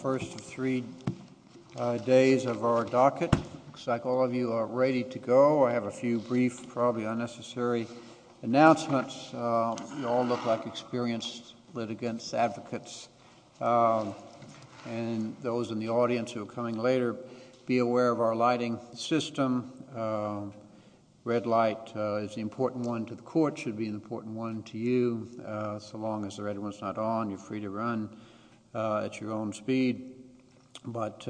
First of three days of our docket. Looks like all of you are ready to go. I have a few brief, probably unnecessary announcements. You all look like experienced litigants, advocates. And those in the audience who are coming later, be aware of our lighting system. Red light is the important one to the court, should be an important one to you. So long as the red one's not on, you're free to run at your own speed. But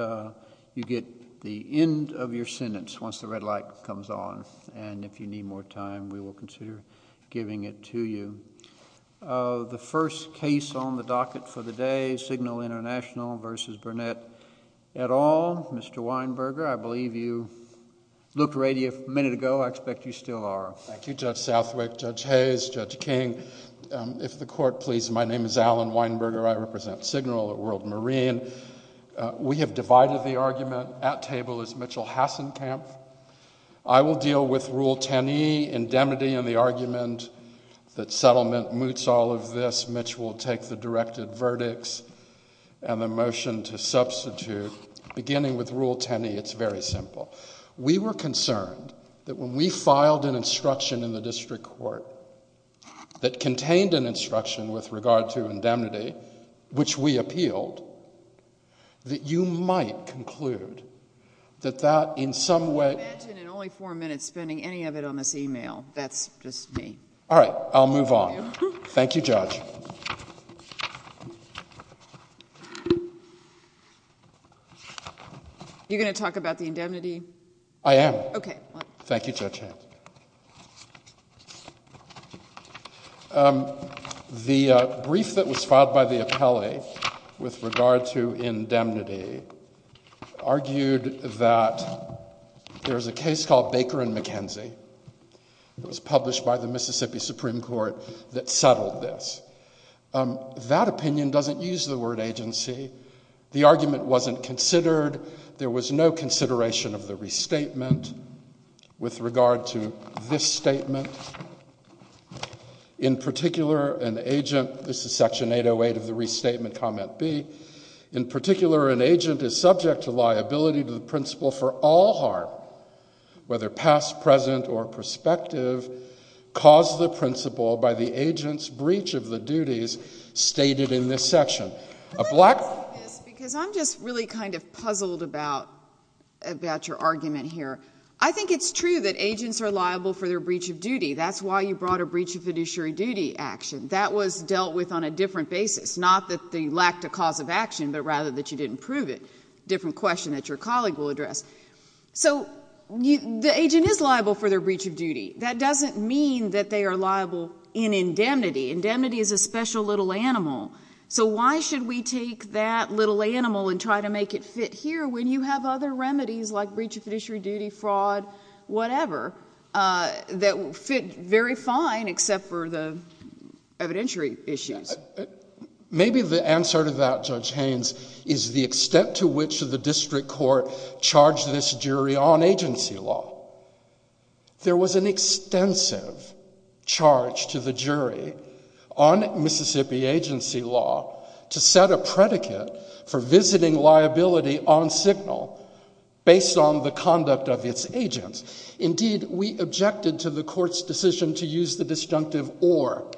you get the end of your sentence once the red light comes on. And if you need more time, we will consider giving it to you. The first case on the docket for the day, Signal International v. Burnett et al. Mr. Weinberger, I believe you looked ready a minute ago. I expect you still are. Thank you, Judge Southwick, Judge Hayes, Judge King. If the court please, my name is Alan Weinberger. I represent Signal at World Marine. We have divided the argument. At table is Mitchell Hassenkamp. I will deal with Rule 10e, indemnity, and the argument that settlement moots all of this. Mitch will take the directed verdicts and the motion to substitute. Beginning with Rule 10e, it's very simple. We were concerned that when we filed an instruction in the district court that contained an instruction with regard to indemnity, which we appealed, that you might conclude that that in some way... I imagine in only four minutes spending any of it on this e-mail. That's just me. All right, I'll move on. Thank you, Judge. You're going to talk about the indemnity? I am. Okay. Thank you, Judge Hayes. The brief that was filed by the appellee with regard to indemnity argued that there's a case called Baker and McKenzie. It was published by the Mississippi Supreme Court that settled this. That opinion doesn't use the word agency. The argument wasn't considered. There was no consideration of the restatement with regard to this statement. In particular, an agent... This is Section 808 of the Restatement, Comment B. In particular, an agent is subject to liability to the principle for all harm, whether past, present, or prospective, caused the principle by the agent's breach of the duties stated in this section. I'm just really kind of puzzled about your argument here. I think it's true that agents are liable for their breach of duty. That's why you brought a breach of fiduciary duty action. That was dealt with on a different basis, not that they lacked a cause of action, but rather that you didn't prove it, a different question that your colleague will address. The agent is liable for their breach of duty. That doesn't mean that they are liable in indemnity. Indemnity is a special little animal. Why should we take that little animal and try to make it fit here when you have other remedies like breach of fiduciary duty, fraud, whatever, that fit very fine except for the evidentiary issues? Maybe the answer to that, Judge Haynes, is the extent to which the district court charged this jury on agency law. There was an extensive charge to the jury on Mississippi agency law to set a predicate for visiting liability on signal based on the conduct of its agents. Indeed, we objected to the court's decision to use the disjunctive or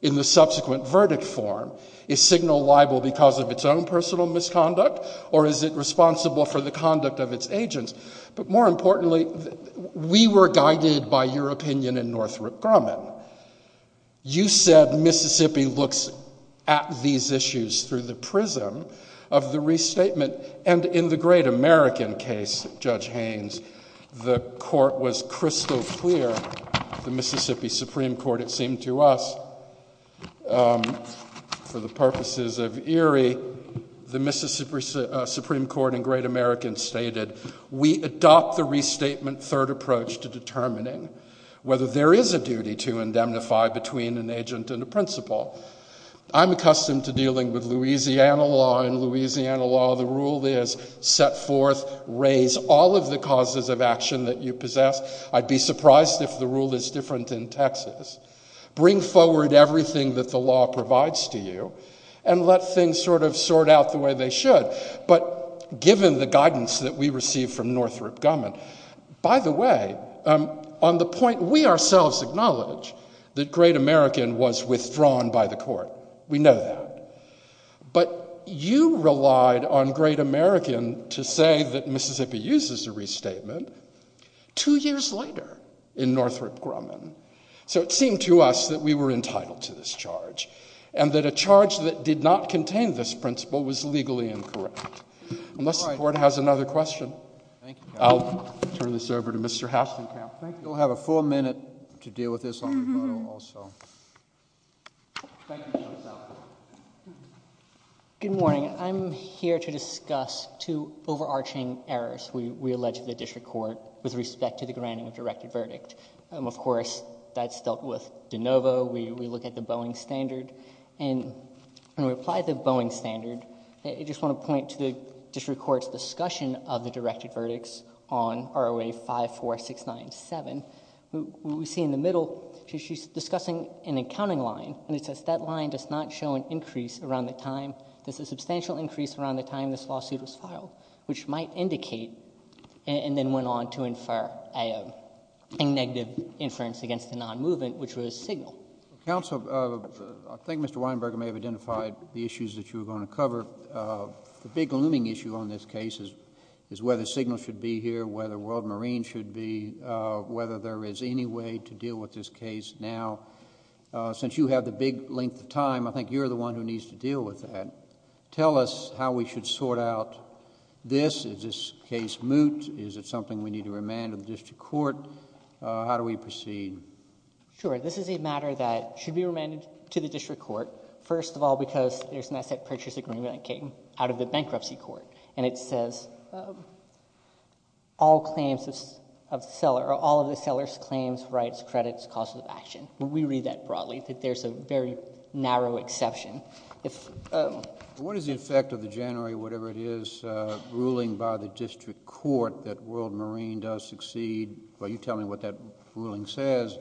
in the subsequent verdict form, is signal liable because of its own personal misconduct or is it responsible for the conduct of its agents? But more importantly, we were guided by your opinion in Northrop Grumman. You said Mississippi looks at these issues through the prism of the restatement and in the great American case, Judge Haynes, the court was crystal clear, the Mississippi Supreme Court, it seemed to us, for the purposes of Erie, the Mississippi Supreme Court and great Americans stated, we adopt the restatement third approach to determining whether there is a duty to indemnify between an agent and a principal. I'm accustomed to dealing with Louisiana law and Louisiana law. The rule is set forth, raise all of the causes of action that you possess. I'd be surprised if the rule is different in Texas. Bring forward everything that the law provides to you and let things sort of sort out the way they should. But given the guidance that we received from Northrop Grumman, by the way, on the point, we ourselves acknowledge that great American was withdrawn by the court. We know that. But you relied on great American to say that Mississippi uses the restatement. Two years later in Northrop Grumman. So it seemed to us that we were entitled to this charge and that a charge that did not contain this principle was legally incorrect. Unless the court has another question. I'll turn this over to Mr. Hastenkamp. You'll have a full minute to deal with this on your own also. Good morning. I'm here to discuss two overarching errors. We allege the district court with respect to the granting of directed verdict. Of course, that's dealt with de novo. We look at the Boeing standard. And when we apply the Boeing standard, I just want to point to the district court's discussion of the directed verdicts on ROA 54697. What we see in the middle, she's discussing an accounting line. And it says that line does not show an increase around the time. There's a substantial increase around the time this lawsuit was filed, which might indicate and then went on to infer a negative inference against the non-movement, which was signal. Counsel, I think Mr. Weinberger may have identified the issues that you were going to cover. The big looming issue on this case is whether signal should be here, whether World Marine should be, whether there is any way to deal with this case now. Since you have the big length of time, I think you're the one who needs to deal with that. Tell us how we should sort out this. Is this case moot? Is it something we need to remand to the district court? How do we proceed? Sure. This is a matter that should be remanded to the district court, first of all because there's an asset purchase agreement that came out of the bankruptcy court. And it says all of the seller's claims, rights, credits, causes of action. We read that broadly, that there's a very narrow exception. What is the effect of the January, whatever it is, ruling by the district court that World Marine does succeed? Will you tell me what that ruling says?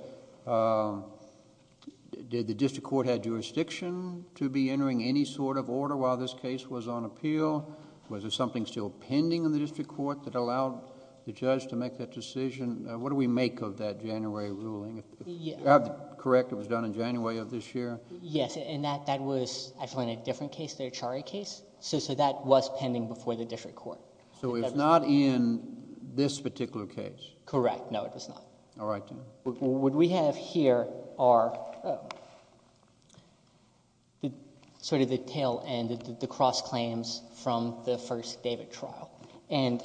Did the district court have jurisdiction to be entering any sort of order while this case was on appeal? Was there something still pending in the district court that allowed the judge to make that decision? What do we make of that January ruling? Correct, it was done in January of this year? Yes, and that was actually in a different case, the Achari case. So that was pending before the district court. So it was not in this particular case? Correct, no, it was not. All right. What we have here are sort of the tail end, the cross claims from the first David trial. And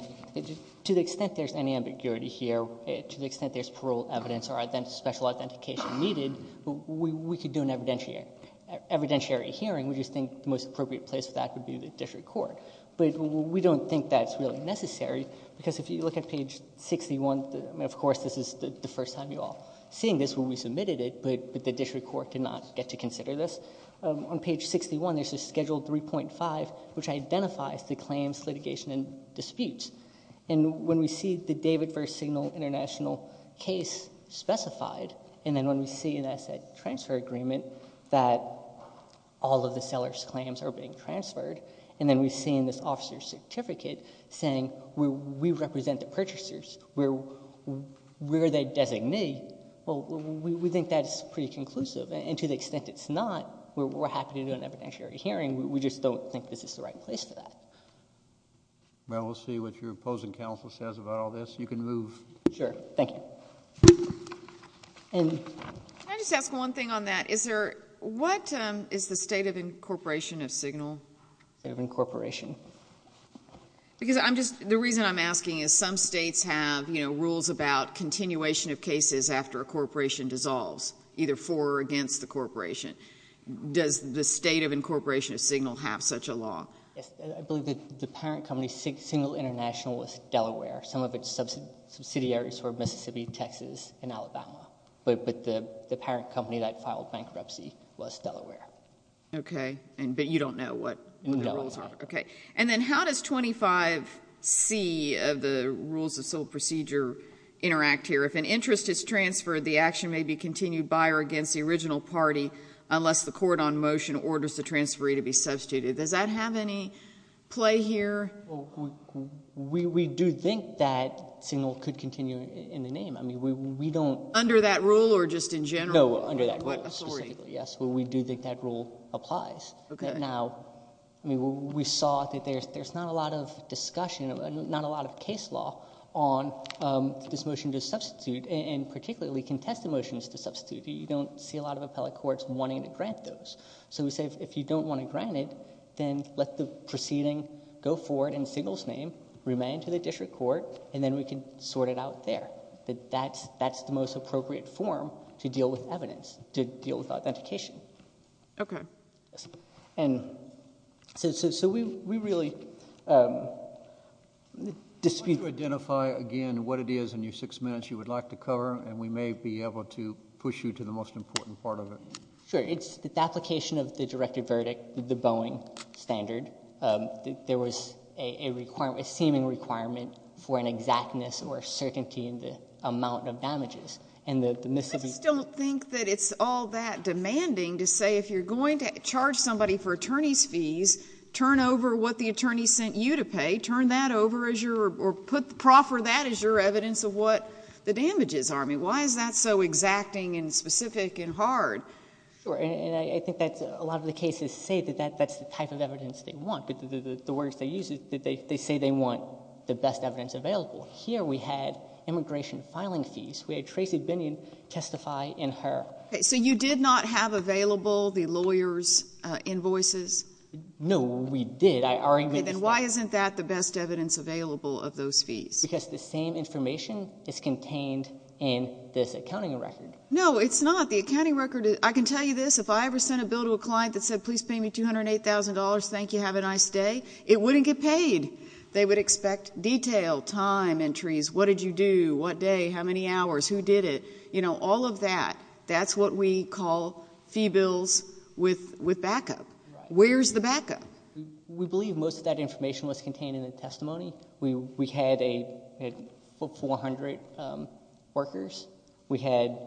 to the extent there's any ambiguity here, to the extent there's parole evidence or special authentication needed, we could do an evidentiary hearing. We just think the most appropriate place for that would be the district court. But we don't think that's really necessary because if you look at page 61, of course this is the first time you're all seeing this when we submitted it, but the district court did not get to consider this. On page 61 there's a schedule 3.5 which identifies the claims, litigation, and disputes. And when we see the David versus Signal International case specified, and then when we see an asset transfer agreement that all of the seller's claims are being transferred, and then we see in this officer's certificate saying we represent the purchasers, we're their designee, well, we think that's pretty conclusive. And to the extent it's not, we're happy to do an evidentiary hearing. We just don't think this is the right place for that. Well, we'll see what your opposing counsel says about all this. You can move. Sure. Thank you. Can I just ask one thing on that? What is the state of incorporation of Signal? State of incorporation. Because the reason I'm asking is some states have rules about continuation of cases after a corporation dissolves, either for or against the corporation. Does the state of incorporation of Signal have such a law? Yes. I believe that the parent company, Signal International, was Delaware. Some of its subsidiaries were Mississippi, Texas, and Alabama. But the parent company that filed bankruptcy was Delaware. Okay. But you don't know what the rules are? No. Okay. And then how does 25C of the rules of sole procedure interact here? If an interest is transferred, the action may be continued by or against the original party unless the court on motion orders the transferee to be substituted. Does that have any play here? We do think that Signal could continue in the name. I mean, we don't... Under that rule or just in general? No, under that rule specifically. What authority? Yes. We do think that rule applies. Okay. Now, we saw that there's not a lot of discussion, not a lot of case law, on this motion to substitute and particularly contested motions to substitute. You don't see a lot of appellate courts wanting to grant those. So we say if you don't want to grant it, then let the proceeding go forward in Signal's name, remain to the district court, and then we can sort it out there. That's the most appropriate form to deal with evidence, to deal with authentication. Okay. And so we really dispute... Why don't you identify again what it is in your six minutes you would like to cover, and we may be able to push you to the most important part of it. Sure. It's the application of the directive verdict, the Boeing standard. There was a seeming requirement for an exactness or certainty in the amount of damages. I just don't think that it's all that demanding to say if you're going to charge somebody for attorney's fees, turn over what the attorney sent you to pay. Turn that over as your... or proffer that as your evidence of what the damages are. I mean, why is that so exacting and specific and hard? Sure. And I think that a lot of the cases say that that's the type of evidence they want. The words they use, they say they want the best evidence available. Here we had immigration filing fees. We had Tracy Binion testify in her. Okay. So you did not have available the lawyer's invoices? No, we did. I already... Okay. Then why isn't that the best evidence available of those fees? Because the same information is contained in this accounting record. No, it's not. The accounting record is... I can tell you this. If I ever sent a bill to a client that said, please pay me $208,000, thank you, have a nice day, it wouldn't get paid. They would expect detail, time entries, what did you do, what day, how many hours, who did it, all of that. That's what we call fee bills with backup. Where's the backup? We believe most of that information was contained in the testimony. We had 400 workers. We had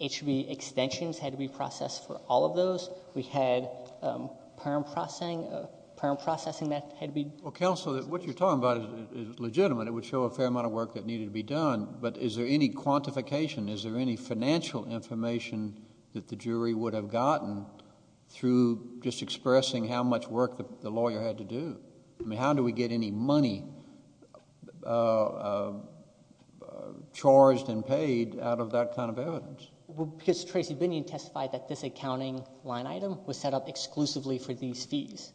HB extensions had to be processed for all of those. We had parent processing that had to be... Counsel, what you're talking about is legitimate. It would show a fair amount of work that needed to be done, but is there any quantification? Is there any financial information that the jury would have gotten through just expressing how much work the lawyer had to do? I mean, how do we get any money charged and paid out of that kind of evidence? Because Tracy Binion testified that this accounting line item was set up exclusively for these fees,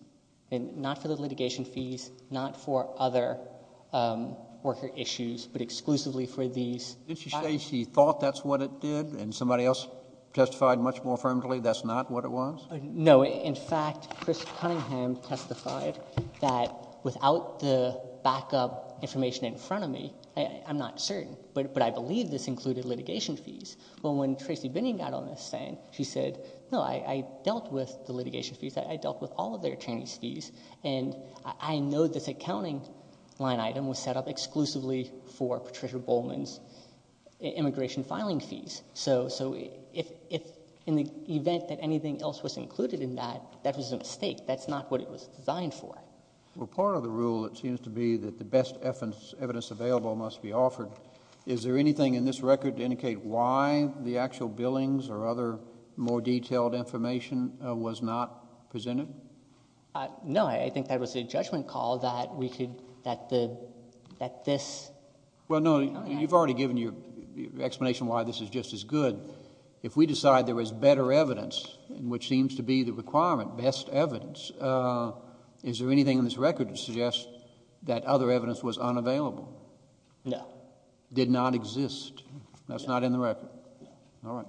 and not for the litigation fees, not for other worker issues, but exclusively for these... Didn't she say she thought that's what it did and somebody else testified much more firmly that's not what it was? No. In fact, Chris Cunningham testified that without the backup information in front of me... I'm not certain, but I believe this included litigation fees. Well, when Tracy Binion got on the stand, she said, no, I dealt with the litigation fees. I dealt with all of the attorneys' fees. And I know this accounting line item was set up exclusively for Patricia Bowman's immigration filing fees. So, in the event that anything else was included in that, that was a mistake. That's not what it was designed for. Well, part of the rule, it seems to be that the best evidence available must be offered. Is there anything in this record to indicate why the actual billings or other more detailed information was not presented? No. I think that was a judgment call that we could... that this... Well, no, you've already given your explanation why this is just as good. If we decide there is better evidence, which seems to be the requirement, best evidence, is there anything in this record to suggest that other evidence was unavailable? No. Did not exist. That's not in the record. All right.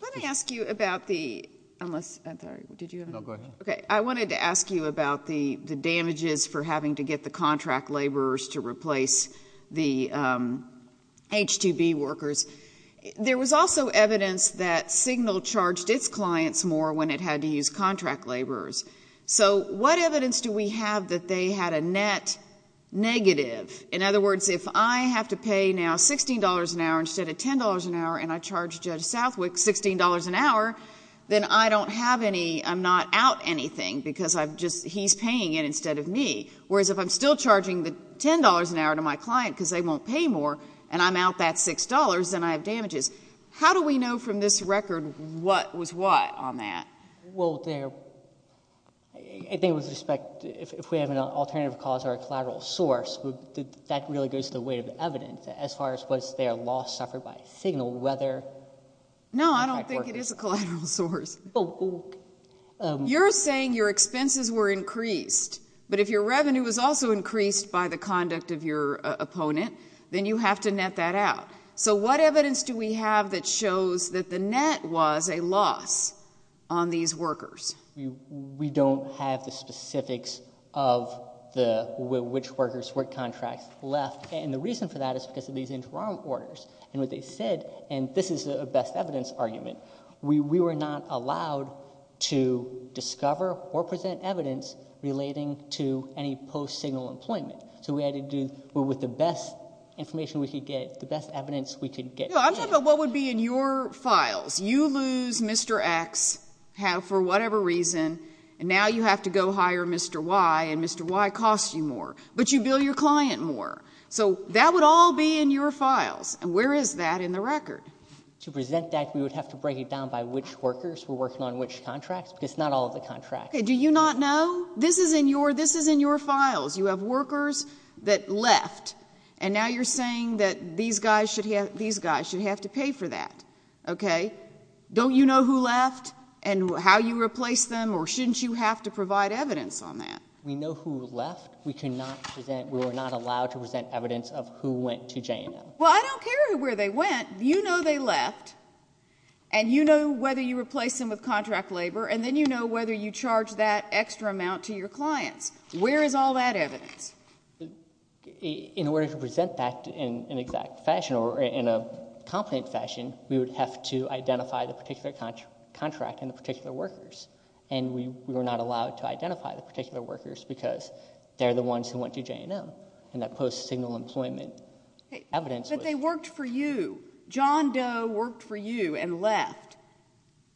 Let me ask you about the... unless... I'm sorry. Did you have a... No, go ahead. Okay. I wanted to ask you about the damages for having to get the contract laborers to replace the H-2B workers. There was also evidence that Signal charged its clients more when it had to use contract laborers. So, what evidence do we have that they had a net negative? In other words, if I have to pay now $16 an hour instead of $10 an hour and I charge Judge Southwick $16 an hour, then I don't have any... I'm not out anything because I've just... he's paying it instead of me. Whereas, if I'm still charging the $10 an hour to my client because they won't pay more, and I'm out that $6, then I have damages. How do we know from this record what was what on that? Well, there... I think with respect... if we have an alternative cause or a collateral source, that really goes to the weight of the evidence as far as was their loss suffered by Signal, whether... No, I don't think it is a collateral source. You're saying your expenses were increased, but if your revenue was also increased by the conduct of your opponent, then you have to net that out. So, what evidence do we have that shows that the net was a loss on these workers? We don't have the specifics of which workers' work contracts left, and the reason for that is because of these interim orders. And what they said, and this is a best evidence argument, we were not allowed to discover or present evidence relating to any post-Signal employment. So, we had to do... with the best information we could get, the best evidence we could get. I'm talking about what would be in your files. You lose Mr. X for whatever reason, and now you have to go hire Mr. Y, and Mr. Y costs you more. But you bill your client more. So, that would all be in your files. And where is that in the record? To present that, we would have to break it down by which workers were working on which contracts, because it's not all of the contracts. Okay, do you not know? This is in your files. You have workers that left, and now you're saying that these guys should have to pay for that. Okay? Don't you know who left and how you replaced them, or shouldn't you have to provide evidence on that? We know who left. We were not allowed to present evidence of who went to J&M. Well, I don't care where they went. You know they left, and you know whether you replaced them with contract labor, and then you know whether you charged that extra amount to your clients. Where is all that evidence? In order to present that in an exact fashion or in a competent fashion, we would have to identify the particular contract and the particular workers. And we were not allowed to identify the particular workers because they're the ones who went to J&M, and that post-signal employment evidence. But they worked for you. John Doe worked for you and left.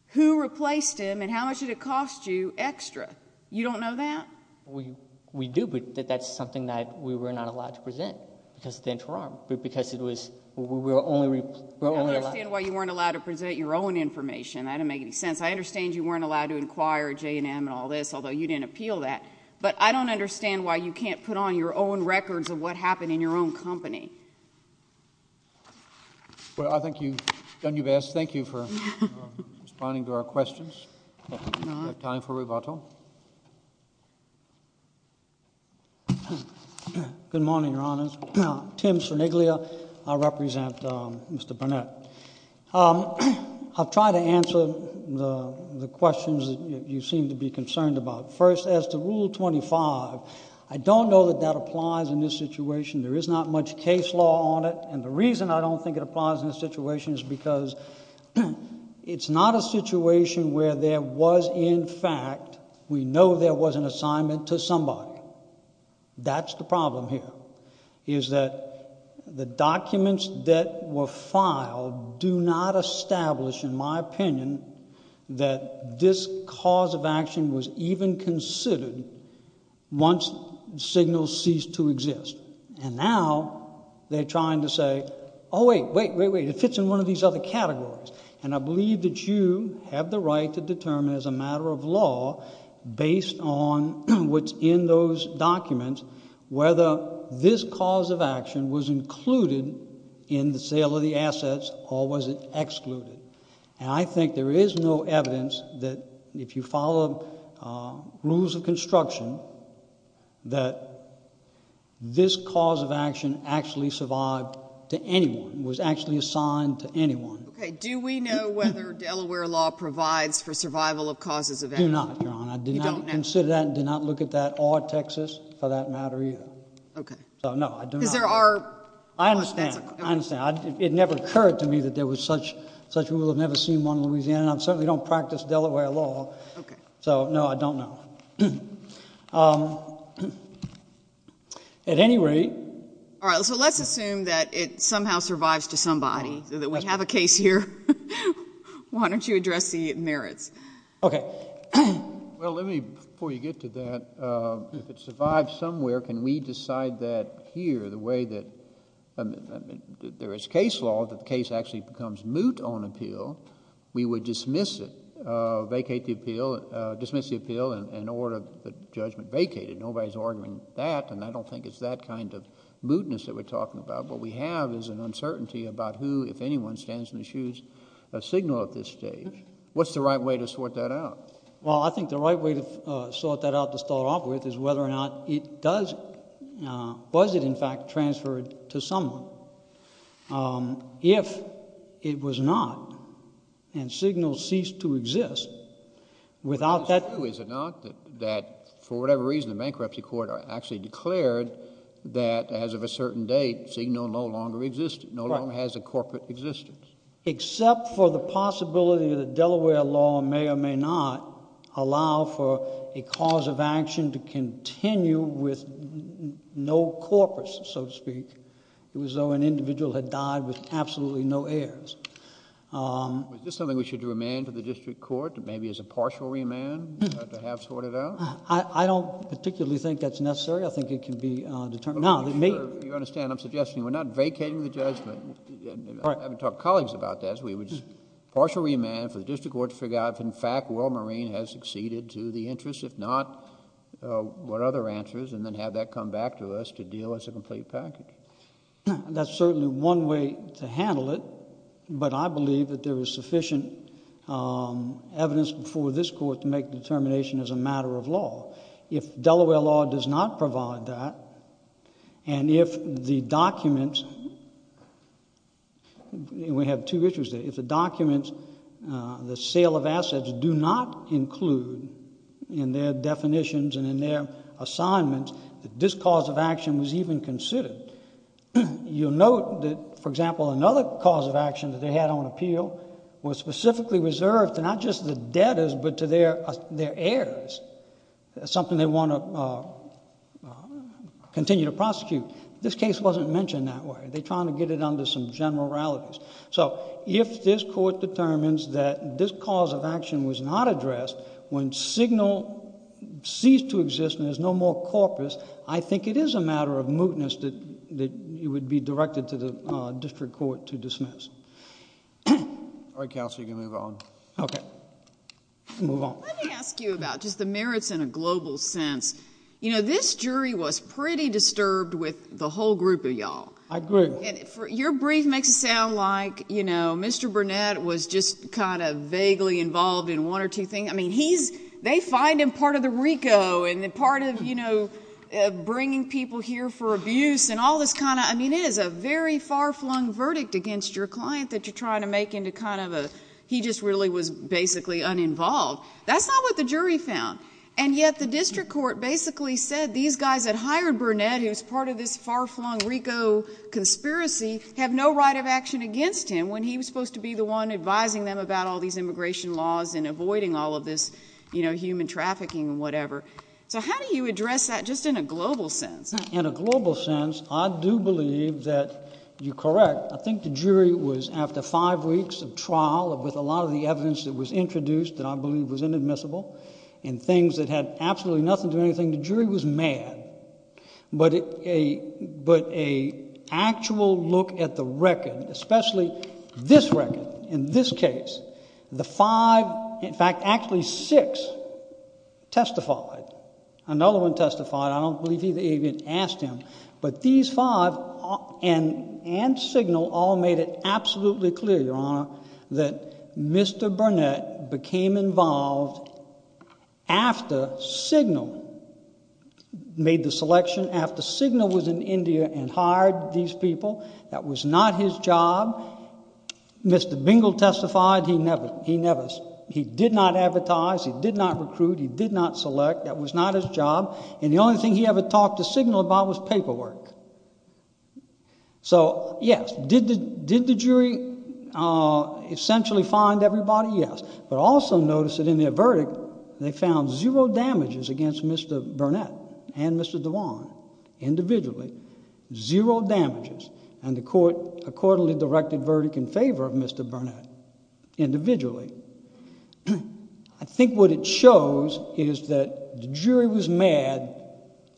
Who replaced him, and how much did it cost you extra? You don't know that? We do, but that's something that we were not allowed to present because of the interim, because we were only allowed to present. I understand why you weren't allowed to present your own information. That doesn't make any sense. I understand you weren't allowed to inquire at J&M and all this, although you didn't appeal that. But I don't understand why you can't put on your own records of what happened in your own company. Well, I think you've done your best. Thank you for responding to our questions. We have time for rebuttal. Good morning, Your Honors. Tim Cerniglia. I represent Mr. Burnett. I'll try to answer the questions that you seem to be concerned about. First, as to Rule 25, I don't know that that applies in this situation. There is not much case law on it. And the reason I don't think it applies in this situation is because it's not a situation where there was, in fact, we know there was an assignment to somebody. That's the problem here. Is that the documents that were filed do not establish, in my opinion, that this cause of action was even considered once signals ceased to exist. And now they're trying to say, oh, wait, wait, wait, wait, it fits in one of these other categories. And I believe that you have the right to determine as a matter of law, based on what's in those documents, whether this cause of action was included in the sale of the assets or was it excluded. And I think there is no evidence that, if you follow rules of construction, that this cause of action actually survived to anyone, was actually assigned to anyone. Okay. Do we know whether Delaware law provides for survival of causes of action? Do not, Your Honor. You don't know? I did not consider that and did not look at that, or Texas, for that matter, either. Okay. So, no, I do not. I understand. I understand. It never occurred to me that there was such rule. I've never seen one in Louisiana, and I certainly don't practice Delaware law. Okay. So, no, I don't know. At any rate. All right. So let's assume that it somehow survives to somebody, that we have a case here. Why don't you address the merits? Okay. Well, let me, before you get to that, if it survives somewhere, can we decide that here, the way that there is case law that the case actually becomes moot on appeal, we would dismiss it, vacate the appeal, dismiss the appeal, and order the judgment vacated. Nobody is arguing that, and I don't think it's that kind of mootness that we're talking about. What we have is an uncertainty about who, if anyone, stands in the shoes, a signal at this stage. What's the right way to sort that out? Well, I think the right way to sort that out to start off with is whether or not it does, was it in fact transferred to someone. If it was not, and signal ceased to exist, without that But is it true, is it not, that for whatever reason the bankruptcy court actually declared that as of a certain date, signal no longer existed, no longer has a corporate existence? Except for the possibility that Delaware law may or may not allow for a cause of action to continue with no corpus, so to speak. It was though an individual had died with absolutely no heirs. Is this something we should remand to the district court, maybe as a partial remand, to have sorted out? I don't particularly think that's necessary. I think it can be determined. You understand, I'm suggesting we're not vacating the judgment. I would talk to colleagues about this. We would partial remand for the district court to figure out if in fact World Marine has succeeded to the interest. If not, what other answers, and then have that come back to us to deal as a complete package. That's certainly one way to handle it. But I believe that there is sufficient evidence before this court to make determination as a matter of law. If Delaware law does not provide that, and if the documents, and we have two issues there, if the documents, the sale of assets do not include in their definitions and in their assignments that this cause of action was even considered, you'll note that, for example, another cause of action that they had on appeal was specifically reserved to not just the debtors but to their heirs, something they want to continue to prosecute. This case wasn't mentioned that way. They're trying to get it under some generalities. If this court determines that this cause of action was not addressed, when signal ceased to exist and there's no more corpus, I think it is a matter of mootness that it would be directed to the district court to dismiss. All right, counsel, you can move on. Okay. Move on. Let me ask you about just the merits in a global sense. You know, this jury was pretty disturbed with the whole group of y'all. I agree. Your brief makes it sound like, you know, Mr. Burnett was just kind of vaguely involved in one or two things. I mean, he's, they find him part of the RICO and part of, you know, bringing people here for abuse and all this kind of, I mean, it is a very far-flung verdict against your client that you're trying to make into kind of a, he just really was basically uninvolved. That's not what the jury found. And yet the district court basically said these guys that hired Burnett, who's part of this far-flung RICO conspiracy, have no right of action against him when he was supposed to be the one advising them about all these immigration laws and avoiding all of this, you know, human trafficking and whatever. So how do you address that just in a global sense? In a global sense, I do believe that you're correct. I think the jury was, after five weeks of trial with a lot of the evidence that was introduced that I believe was inadmissible and things that had absolutely nothing to do with anything, the jury was mad. But a actual look at the record, especially this record, in this case, the five, in fact, actually six testified. Another one testified. I don't believe either of you even asked him. But these five and Signal all made it absolutely clear, Your Honor, that Mr. Burnett became involved after Signal made the selection, after Signal was in India and hired these people. That was not his job. Mr. Bingle testified. He never, he did not advertise. He did not recruit. He did not select. That was not his job. And the only thing he ever talked to Signal about was paperwork. So, yes, did the jury essentially find everybody? Yes. But also notice that in their verdict, they found zero damages against Mr. Burnett and Mr. Dewan, individually. Zero damages. And the court accordingly directed verdict in favor of Mr. Burnett, individually. I think what it shows is that the jury was mad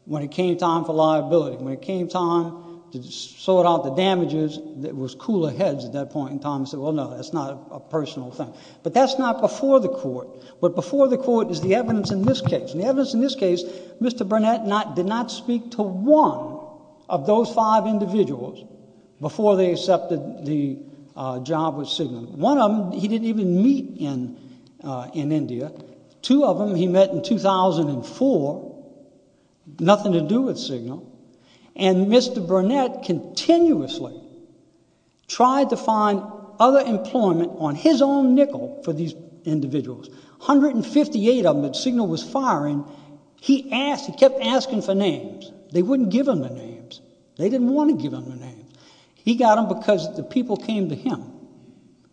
when it came time for liability. When it came time to sort out the damages, it was cooler heads at that point in time and said, well, no, that's not a personal thing. But that's not before the court. What before the court is the evidence in this case. And the evidence in this case, Mr. Burnett did not speak to one of those five individuals before they accepted the job with Signal. One of them he didn't even meet in India. Two of them he met in 2004, nothing to do with Signal. And Mr. Burnett continuously tried to find other employment on his own nickel for these individuals. 158 of them that Signal was firing, he kept asking for names. They wouldn't give him the names. They didn't want to give him the names. He got them because the people came to him.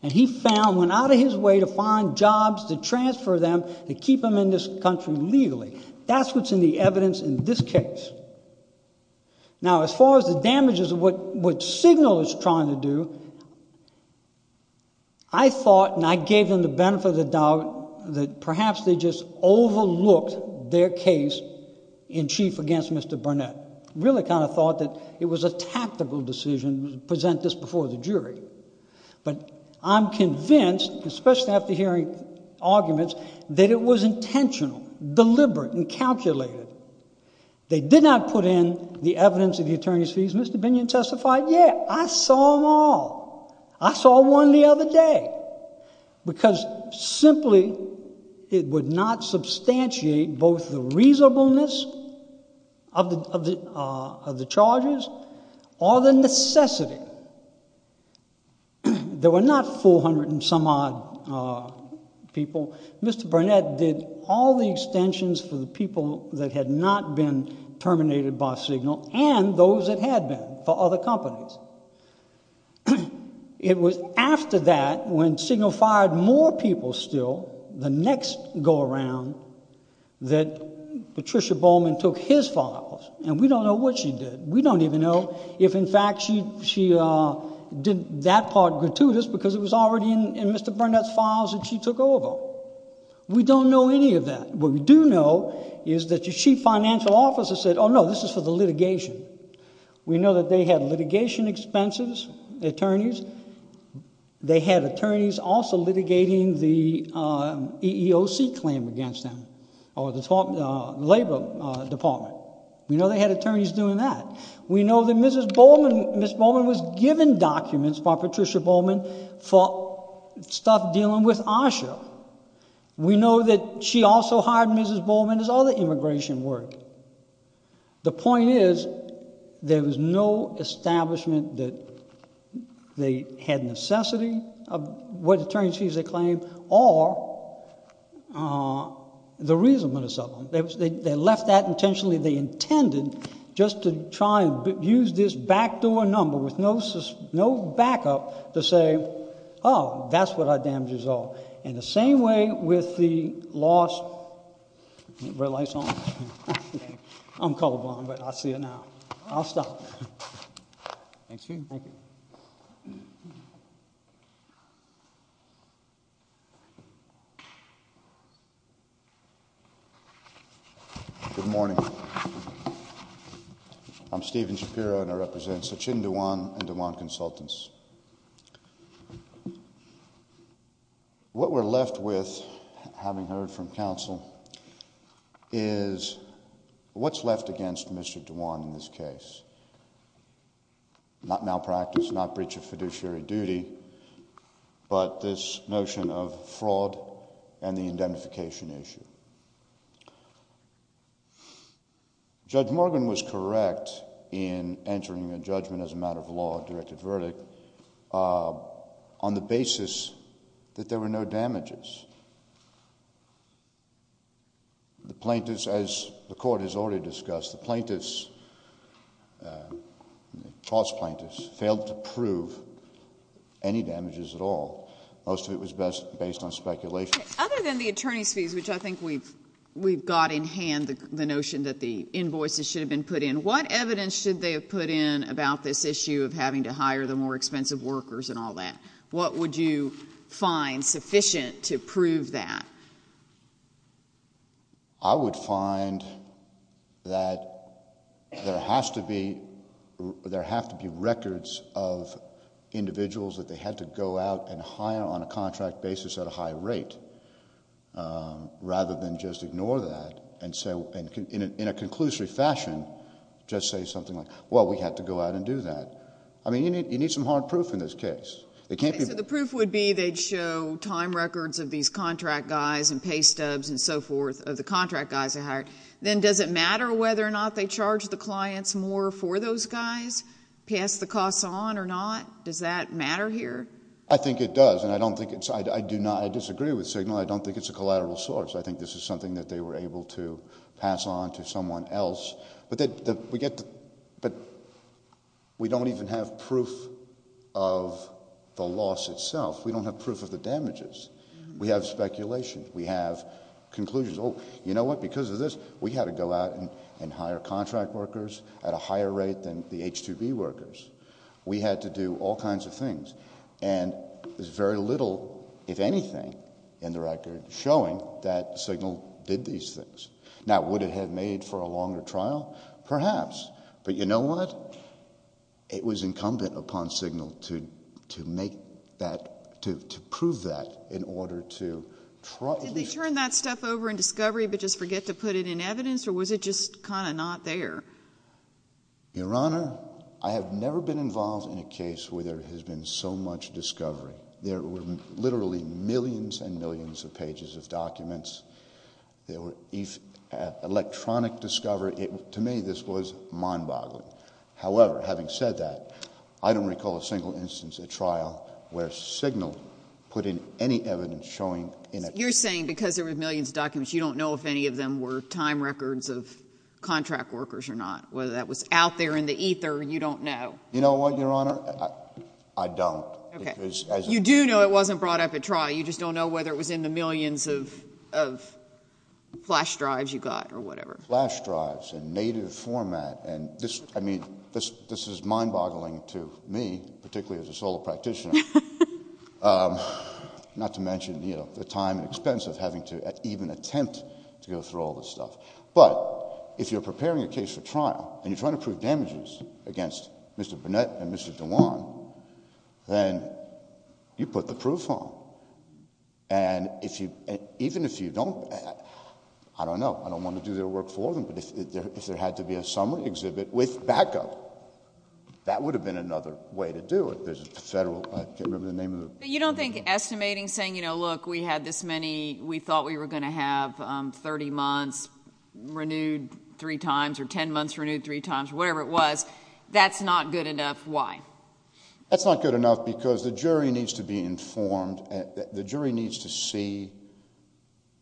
And he found, went out of his way to find jobs to transfer them to keep them in this country legally. That's what's in the evidence in this case. Now, as far as the damages of what Signal is trying to do, I thought, and I gave them the benefit of the doubt, that perhaps they just overlooked their case in chief against Mr. Burnett. I really kind of thought that it was a tactical decision to present this before the jury. But I'm convinced, especially after hearing arguments, that it was intentional, deliberate, and calculated. They did not put in the evidence of the attorney's fees. Mr. Binion testified, yeah, I saw them all. I saw one the other day. Because simply it would not substantiate both the reasonableness of the charges or the necessity. There were not 400 and some odd people. Mr. Burnett did all the extensions for the people that had not been terminated by Signal and those that had been for other companies. It was after that, when Signal fired more people still, the next go around, that Patricia Bowman took his files. And we don't know what she did. We don't even know if, in fact, she did that part gratuitous because it was already in Mr. Burnett's files that she took over. We don't know any of that. What we do know is that your chief financial officer said, oh, no, this is for the litigation. We know that they had litigation expenses, attorneys. They had attorneys also litigating the EEOC claim against them, or the Labor Department. We know they had attorneys doing that. We know that Mrs. Bowman was given documents by Patricia Bowman for stuff dealing with ASHA. We know that she also hired Mrs. Bowman as all the immigration work. The point is, there was no establishment that they had necessity of what attorneys they claimed or the reason for the settlement. They left that intentionally. They intended just to try and use this backdoor number with no backup to say, oh, that's what our damages are. In the same way with the loss, red lights on. I'm color blind, but I see it now. I'll stop. Thank you. Thank you. Good morning. I'm Stephen Shapiro and I represent Sachin Dhawan and Dhawan Consultants. What we're left with, having heard from counsel, is what's left against Mr. Dhawan in this case? Not malpractice, not breach of fiduciary duty, but this notion of fraud and the indemnification issue. Judge Morgan was correct in entering a judgment as a matter of law, directed verdict, on the basis that there were no damages. The plaintiffs, as the court has already discussed, the plaintiffs, false plaintiffs, failed to prove any damages at all. Most of it was based on speculation. Other than the attorney's fees, which I think we've got in hand the notion that the invoices should have been put in, what evidence should they have put in about this issue of having to hire the more expensive workers and all that? What would you find sufficient to prove that? I would find that there has to be records of individuals that they had to go out and hire on a contract basis at a high rate rather than just ignore that and in a conclusory fashion just say something like, well, we had to go out and do that. You need some hard proof in this case. The proof would be they'd show time records of these contract guys and pay stubs and so forth of the contract guys they hired. Then does it matter whether or not they charge the clients more for those guys, pass the costs on or not? Does that matter here? I think it does, and I disagree with Signal. I don't think it's a collateral source. I think this is something that they were able to pass on to someone else. But we don't even have proof of the loss itself. We don't have proof of the damages. We have speculation. We have conclusions. Oh, you know what, because of this, we had to go out and hire contract workers at a higher rate than the H-2B workers. We had to do all kinds of things. And there's very little, if anything, in the record, showing that Signal did these things. Now, would it have made for a longer trial? Perhaps. But you know what, it was incumbent upon Signal to make that, to prove that in order to try. Did they turn that stuff over in discovery but just forget to put it in evidence or was it just kind of not there? Your Honor, I have never been involved in a case where there has been so much discovery. There were literally millions and millions of pages of documents. There were electronic discovery. To me, this was mind-boggling. However, having said that, I don't recall a single instance at trial where Signal put in any evidence showing in it. You're saying because there were millions of documents, you don't know if any of them were time records of contract workers or not. Whether that was out there in the ether, you don't know. You know what, Your Honor? I don't. You do know it wasn't brought up at trial. You just don't know whether it was in the millions of flash drives you got or whatever. Flash drives in native format. I mean, this is mind-boggling to me, particularly as a solo practitioner, not to mention the time and expense of having to even attempt to go through all this stuff. But if you're preparing a case for trial and you're trying to prove damages against Mr. Burnett and Mr. Dewan, then you put the proof on. And even if you don't, I don't know, I don't want to do their work for them, but if there had to be a summary exhibit with backup, that would have been another way to do it. There's a federal... I can't remember the name of it. You don't think estimating, saying, you know, look, we had this many... we thought we were going to have 30 months renewed three times or 10 months renewed three times or whatever it was, that's not good enough. Why? That's not good enough because the jury needs to be informed. The jury needs to see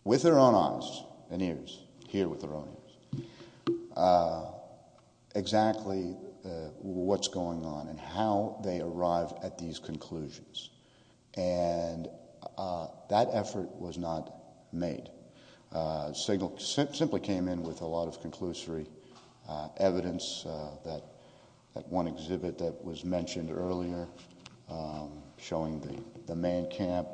with their own eyes and ears, hear with their own ears, exactly what's going on and how they arrive at these conclusions. And that effort was not made. It simply came in with a lot of conclusory evidence, that one exhibit that was mentioned earlier showing the main camp.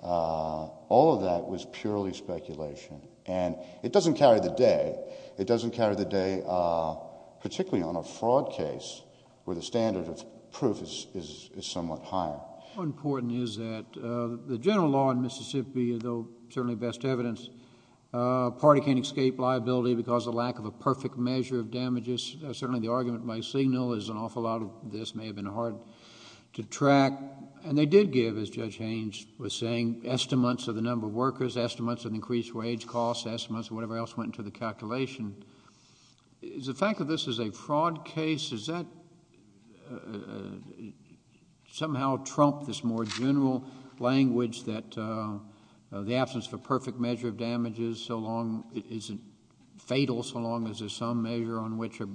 All of that was purely speculation. And it doesn't carry the day. It doesn't carry the day particularly on a fraud case where the standard of proof is somewhat higher. What's important is that the general law in Mississippi, though certainly best evidence, a party can't escape liability because of a lack of a perfect measure of damages. Certainly the argument by Signal is an awful lot of this may have been hard to track. And they did give, as Judge Haynes was saying, estimates of the number of workers, estimates of increased wage costs, estimates of whatever else went into the calculation. The fact that this is a fraud case, does that somehow trump this more general language that the absence of a perfect measure of damages isn't fatal so long as there's some measure on which a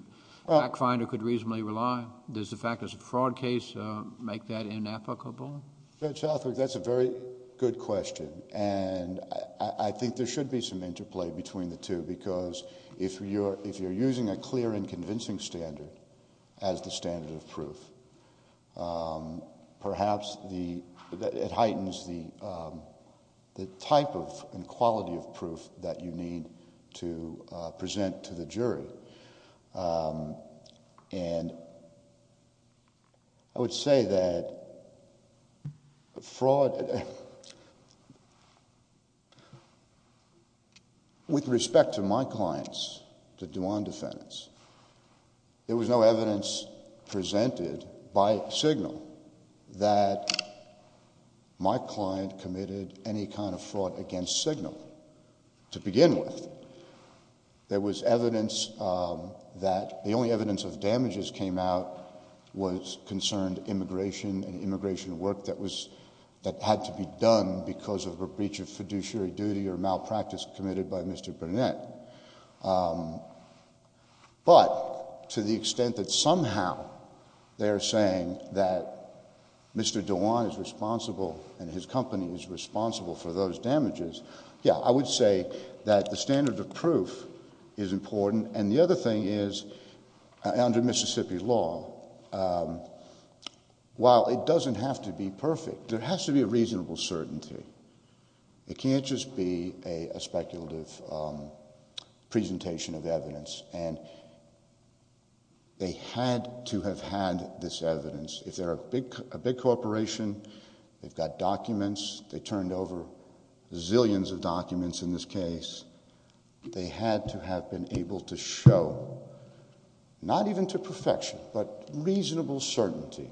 back finder could reasonably rely? Does the fact it's a fraud case make that inapplicable? Judge Hathaway, that's a very good question. And I think there should be some interplay between the two because if you're using a clear and convincing standard as the standard of proof, perhaps it heightens the type and quality of proof that you need to present to the jury. And I would say that fraud... With respect to my clients, the Dwan defendants, there was no evidence presented by Signal that my client committed any kind of fraud against Signal to begin with. There was evidence that the only evidence of damages came out was concerned immigration and immigration work that had to be done because of a breach of fiduciary duty or malpractice committed by Mr. Burnett. But to the extent that somehow they're saying that Mr. Dwan is responsible and his company is responsible for those damages, yeah, I would say that the standard of proof is important. And the other thing is, under Mississippi law, while it doesn't have to be perfect, there has to be a reasonable certainty. It can't just be a speculative presentation of evidence. And they had to have had this evidence. If they're a big corporation, they've got documents, they turned over zillions of documents in this case. They had to have been able to show, not even to perfection, but reasonable certainty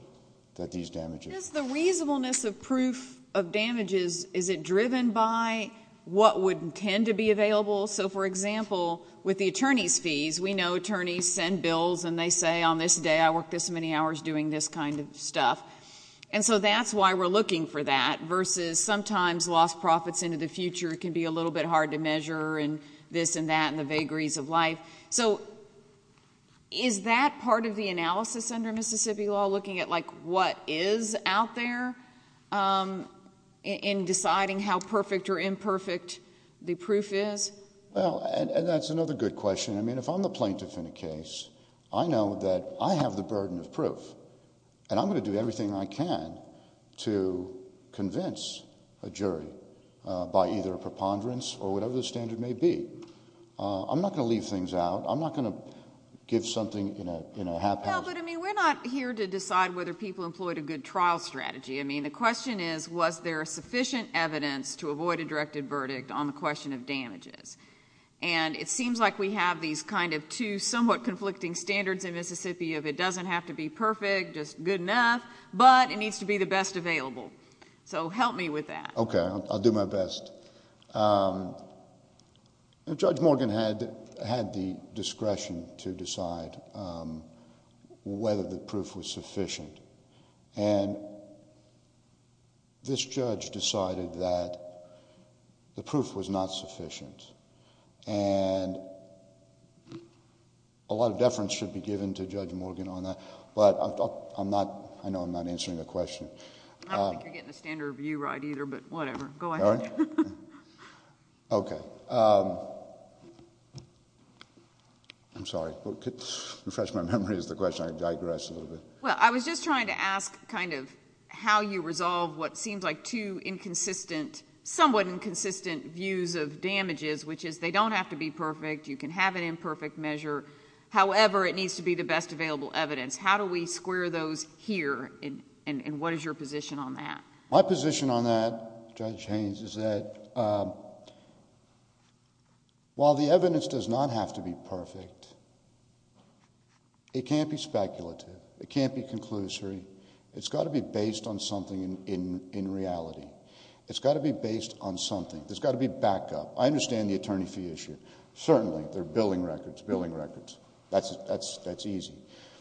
that these damages... Just the reasonableness of proof of damages, is it driven by what would tend to be available? So, for example, with the attorney's fees, we know attorneys send bills and they say, on this day I worked this many hours doing this kind of stuff. And so that's why we're looking for that, versus sometimes lost profits into the future can be a little bit hard to measure and this and that and the vagaries of life. So, is that part of the analysis under Mississippi law, looking at what is out there in deciding how perfect or imperfect the proof is? Well, and that's another good question. I mean, if I'm the plaintiff in a case, I know that I have the burden of proof. And I'm going to do everything I can to convince a jury by either a preponderance or whatever the standard may be. I'm not going to leave things out. I'm not going to give something in a haphazard... But, I mean, we're not here to decide whether people employed a good trial strategy. I mean, the question is, was there sufficient evidence to avoid a directed verdict on the question of damages? And it seems like we have these kind of two somewhat conflicting standards in Mississippi of it doesn't have to be perfect, just good enough, but it needs to be the best available. So help me with that. Okay. I'll do my best. Judge Morgan had the discretion to decide whether the proof was sufficient. And this judge decided that the proof was not sufficient. And a lot of deference should be given to Judge Morgan on that. But I'm not... I know I'm not answering the question. I don't think you're getting the standard view right either, but whatever. Go ahead. Okay. I'm sorry. Refresh my memory is the question. I digressed a little bit. Well, I was just trying to ask kind of how you resolve what seems like two somewhat inconsistent views of damages, which is they don't have to be perfect. You can have an imperfect measure. However, it needs to be the best available evidence. How do we square those here, and what is your position on that? My position on that, Judge Haynes, is that while the evidence does not have to be perfect, it can't be speculative. It can't be conclusory. It's got to be based on something in reality. It's got to be based on something. There's got to be backup. I understand the attorney fee issue. Certainly. There are billing records, billing records. That's easy.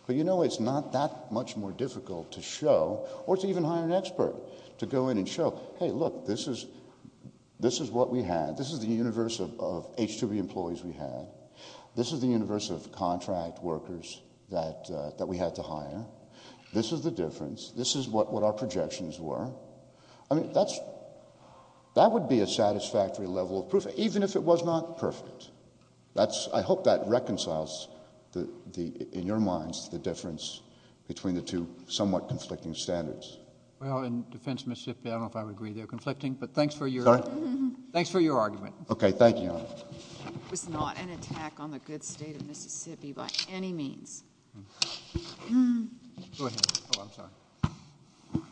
But, you know, it's not that much more difficult to show, or to even hire an expert, to go in and show, hey, look, this is what we had. This is the universe of H2B employees we had. This is the universe of contract workers that we had to hire. This is the difference. This is what our projections were. I mean, that would be a satisfactory level of proof, even if it was not perfect. I hope that reconciles in your minds the difference between the two somewhat conflicting standards. Well, in defense of Mississippi, I don't know if I would agree they're conflicting, but thanks for your argument. Okay. Thank you, Your Honor. It was not an attack on the good state of Mississippi by any means. Go ahead. Oh, I'm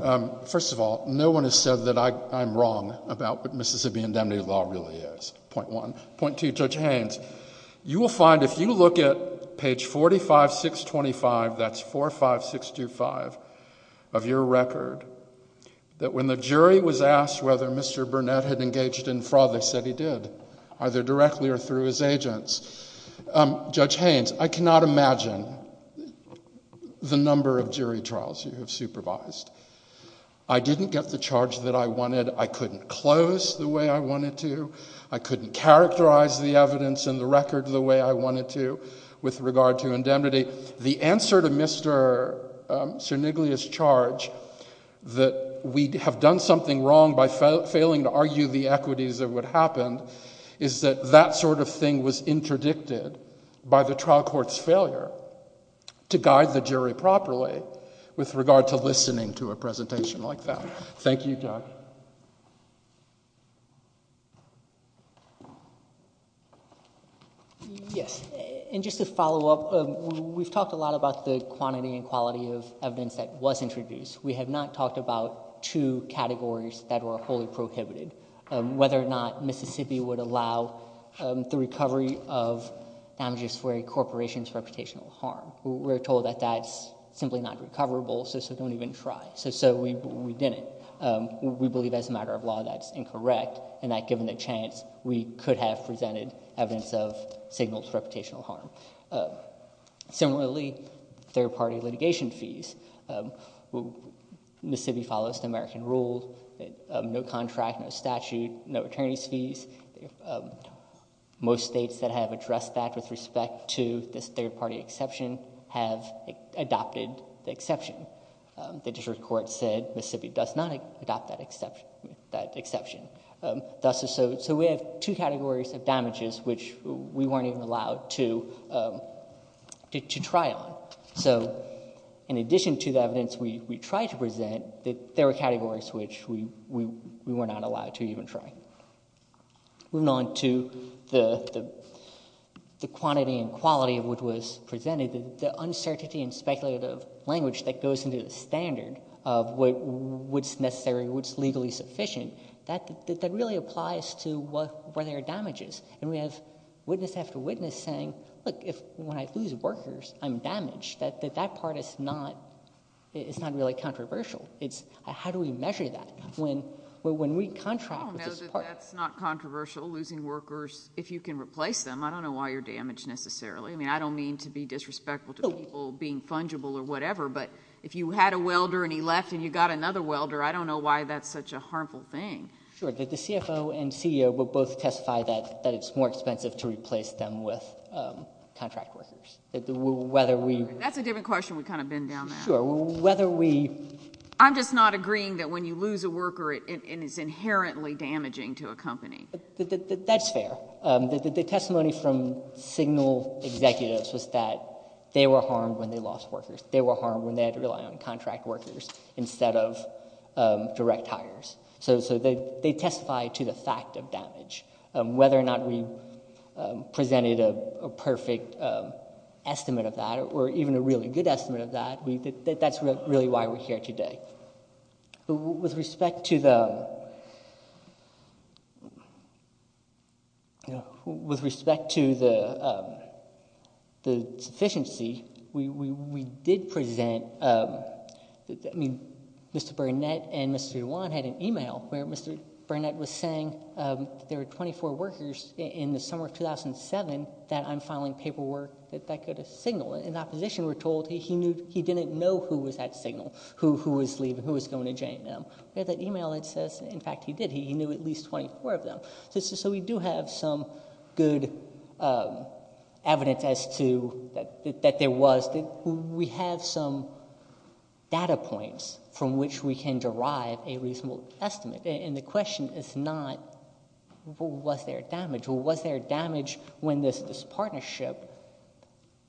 sorry. First of all, no one has said that I'm wrong about what Mississippi indemnity law really is, point one. Point two, Judge Haynes, you will find if you look at page 45625, that's 45625 of your record, that when the jury was asked whether Mr. Burnett had engaged in fraud, they said he did, either directly or through his agents. Judge Haynes, I cannot imagine the number of jury trials you have supervised. I didn't get the charge that I wanted. I couldn't close the way I wanted to. I couldn't characterize the evidence in the record the way I wanted to with regard to indemnity. The answer to Mr. Cerniglia's charge that we have done something wrong by failing to argue the equities of what happened is that that sort of thing was interdicted by the trial court's failure to guide the jury properly with regard to listening to a presentation like that. Thank you, Judge. Yes, and just to follow up, we've talked a lot about the quantity and quality of evidence that was introduced. We have not talked about two categories that were wholly prohibited, whether or not Mississippi would allow the recovery of damages for a corporation's reputational harm. We're told that that's simply not recoverable, so don't even try. So we didn't. We believe as a matter of law that's incorrect, and that given the chance, we could have presented evidence of signaled reputational harm. Similarly, third-party litigation fees. Mississippi follows the American rule, no contract, no statute, no attorney's fees. Most states that have addressed that with respect to this third-party exception have adopted the exception. The district court said Mississippi does not adopt that exception. So we have two categories of damages which we weren't even allowed to try on. So in addition to the evidence we tried to present, there were categories which we were not allowed to even try. Moving on to the quantity and quality of what was presented, the uncertainty and speculative language that goes into the standard of what's necessary, what's legally sufficient, that really applies to where there are damages. And we have witness after witness saying, look, when I lose workers, I'm damaged. That part is not really controversial. How do we measure that when we contract with this part? No, that's not controversial, losing workers. If you can replace them, I don't know why you're damaged necessarily. I mean, I don't mean to be disrespectful to people being fungible or whatever, but if you had a welder and he left and you got another welder, I don't know why that's such a harmful thing. Sure. The CFO and CEO will both testify that it's more expensive to replace them with contract workers. That's a different question. We kind of bend down that. Sure. Whether we — I'm just not agreeing that when you lose a worker, it is inherently damaging to a company. That's fair. The testimony from Signal executives was that they were harmed when they lost workers. They were harmed when they had to rely on contract workers instead of direct hires. So they testify to the fact of damage. Whether or not we presented a perfect estimate of that or even a really good estimate of that, that's really why we're here today. With respect to the sufficiency, we did present — I mean, Mr. Burnett and Mr. Yuan had an e-mail where Mr. Burnett was saying there were 24 workers in the summer of 2007 that I'm filing paperwork that could signal. And in that position, we're told he didn't know who was at Signal, who was leaving, who was going to J&M. We have that e-mail that says, in fact, he did. He knew at least 24 of them. So we do have some good evidence as to — that there was. We have some data points from which we can derive a reasonable estimate. And the question is not, was there damage? Was there damage when this partnership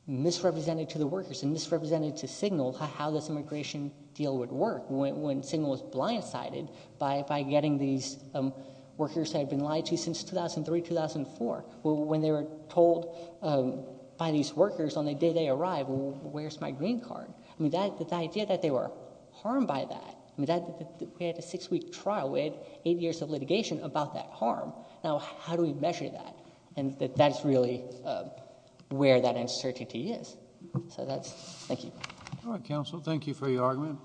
misrepresented to the workers and misrepresented to Signal how this immigration deal would work when Signal was blindsided by getting these workers that had been lied to since 2003, 2004? When they were told by these workers on the day they arrived, where's my green card? I mean, the idea that they were harmed by that. We had a six-week trial. We had eight years of litigation about that harm. Now, how do we measure that? And that's really where that uncertainty is. So that's — thank you. All right, counsel. Thank you for your argument.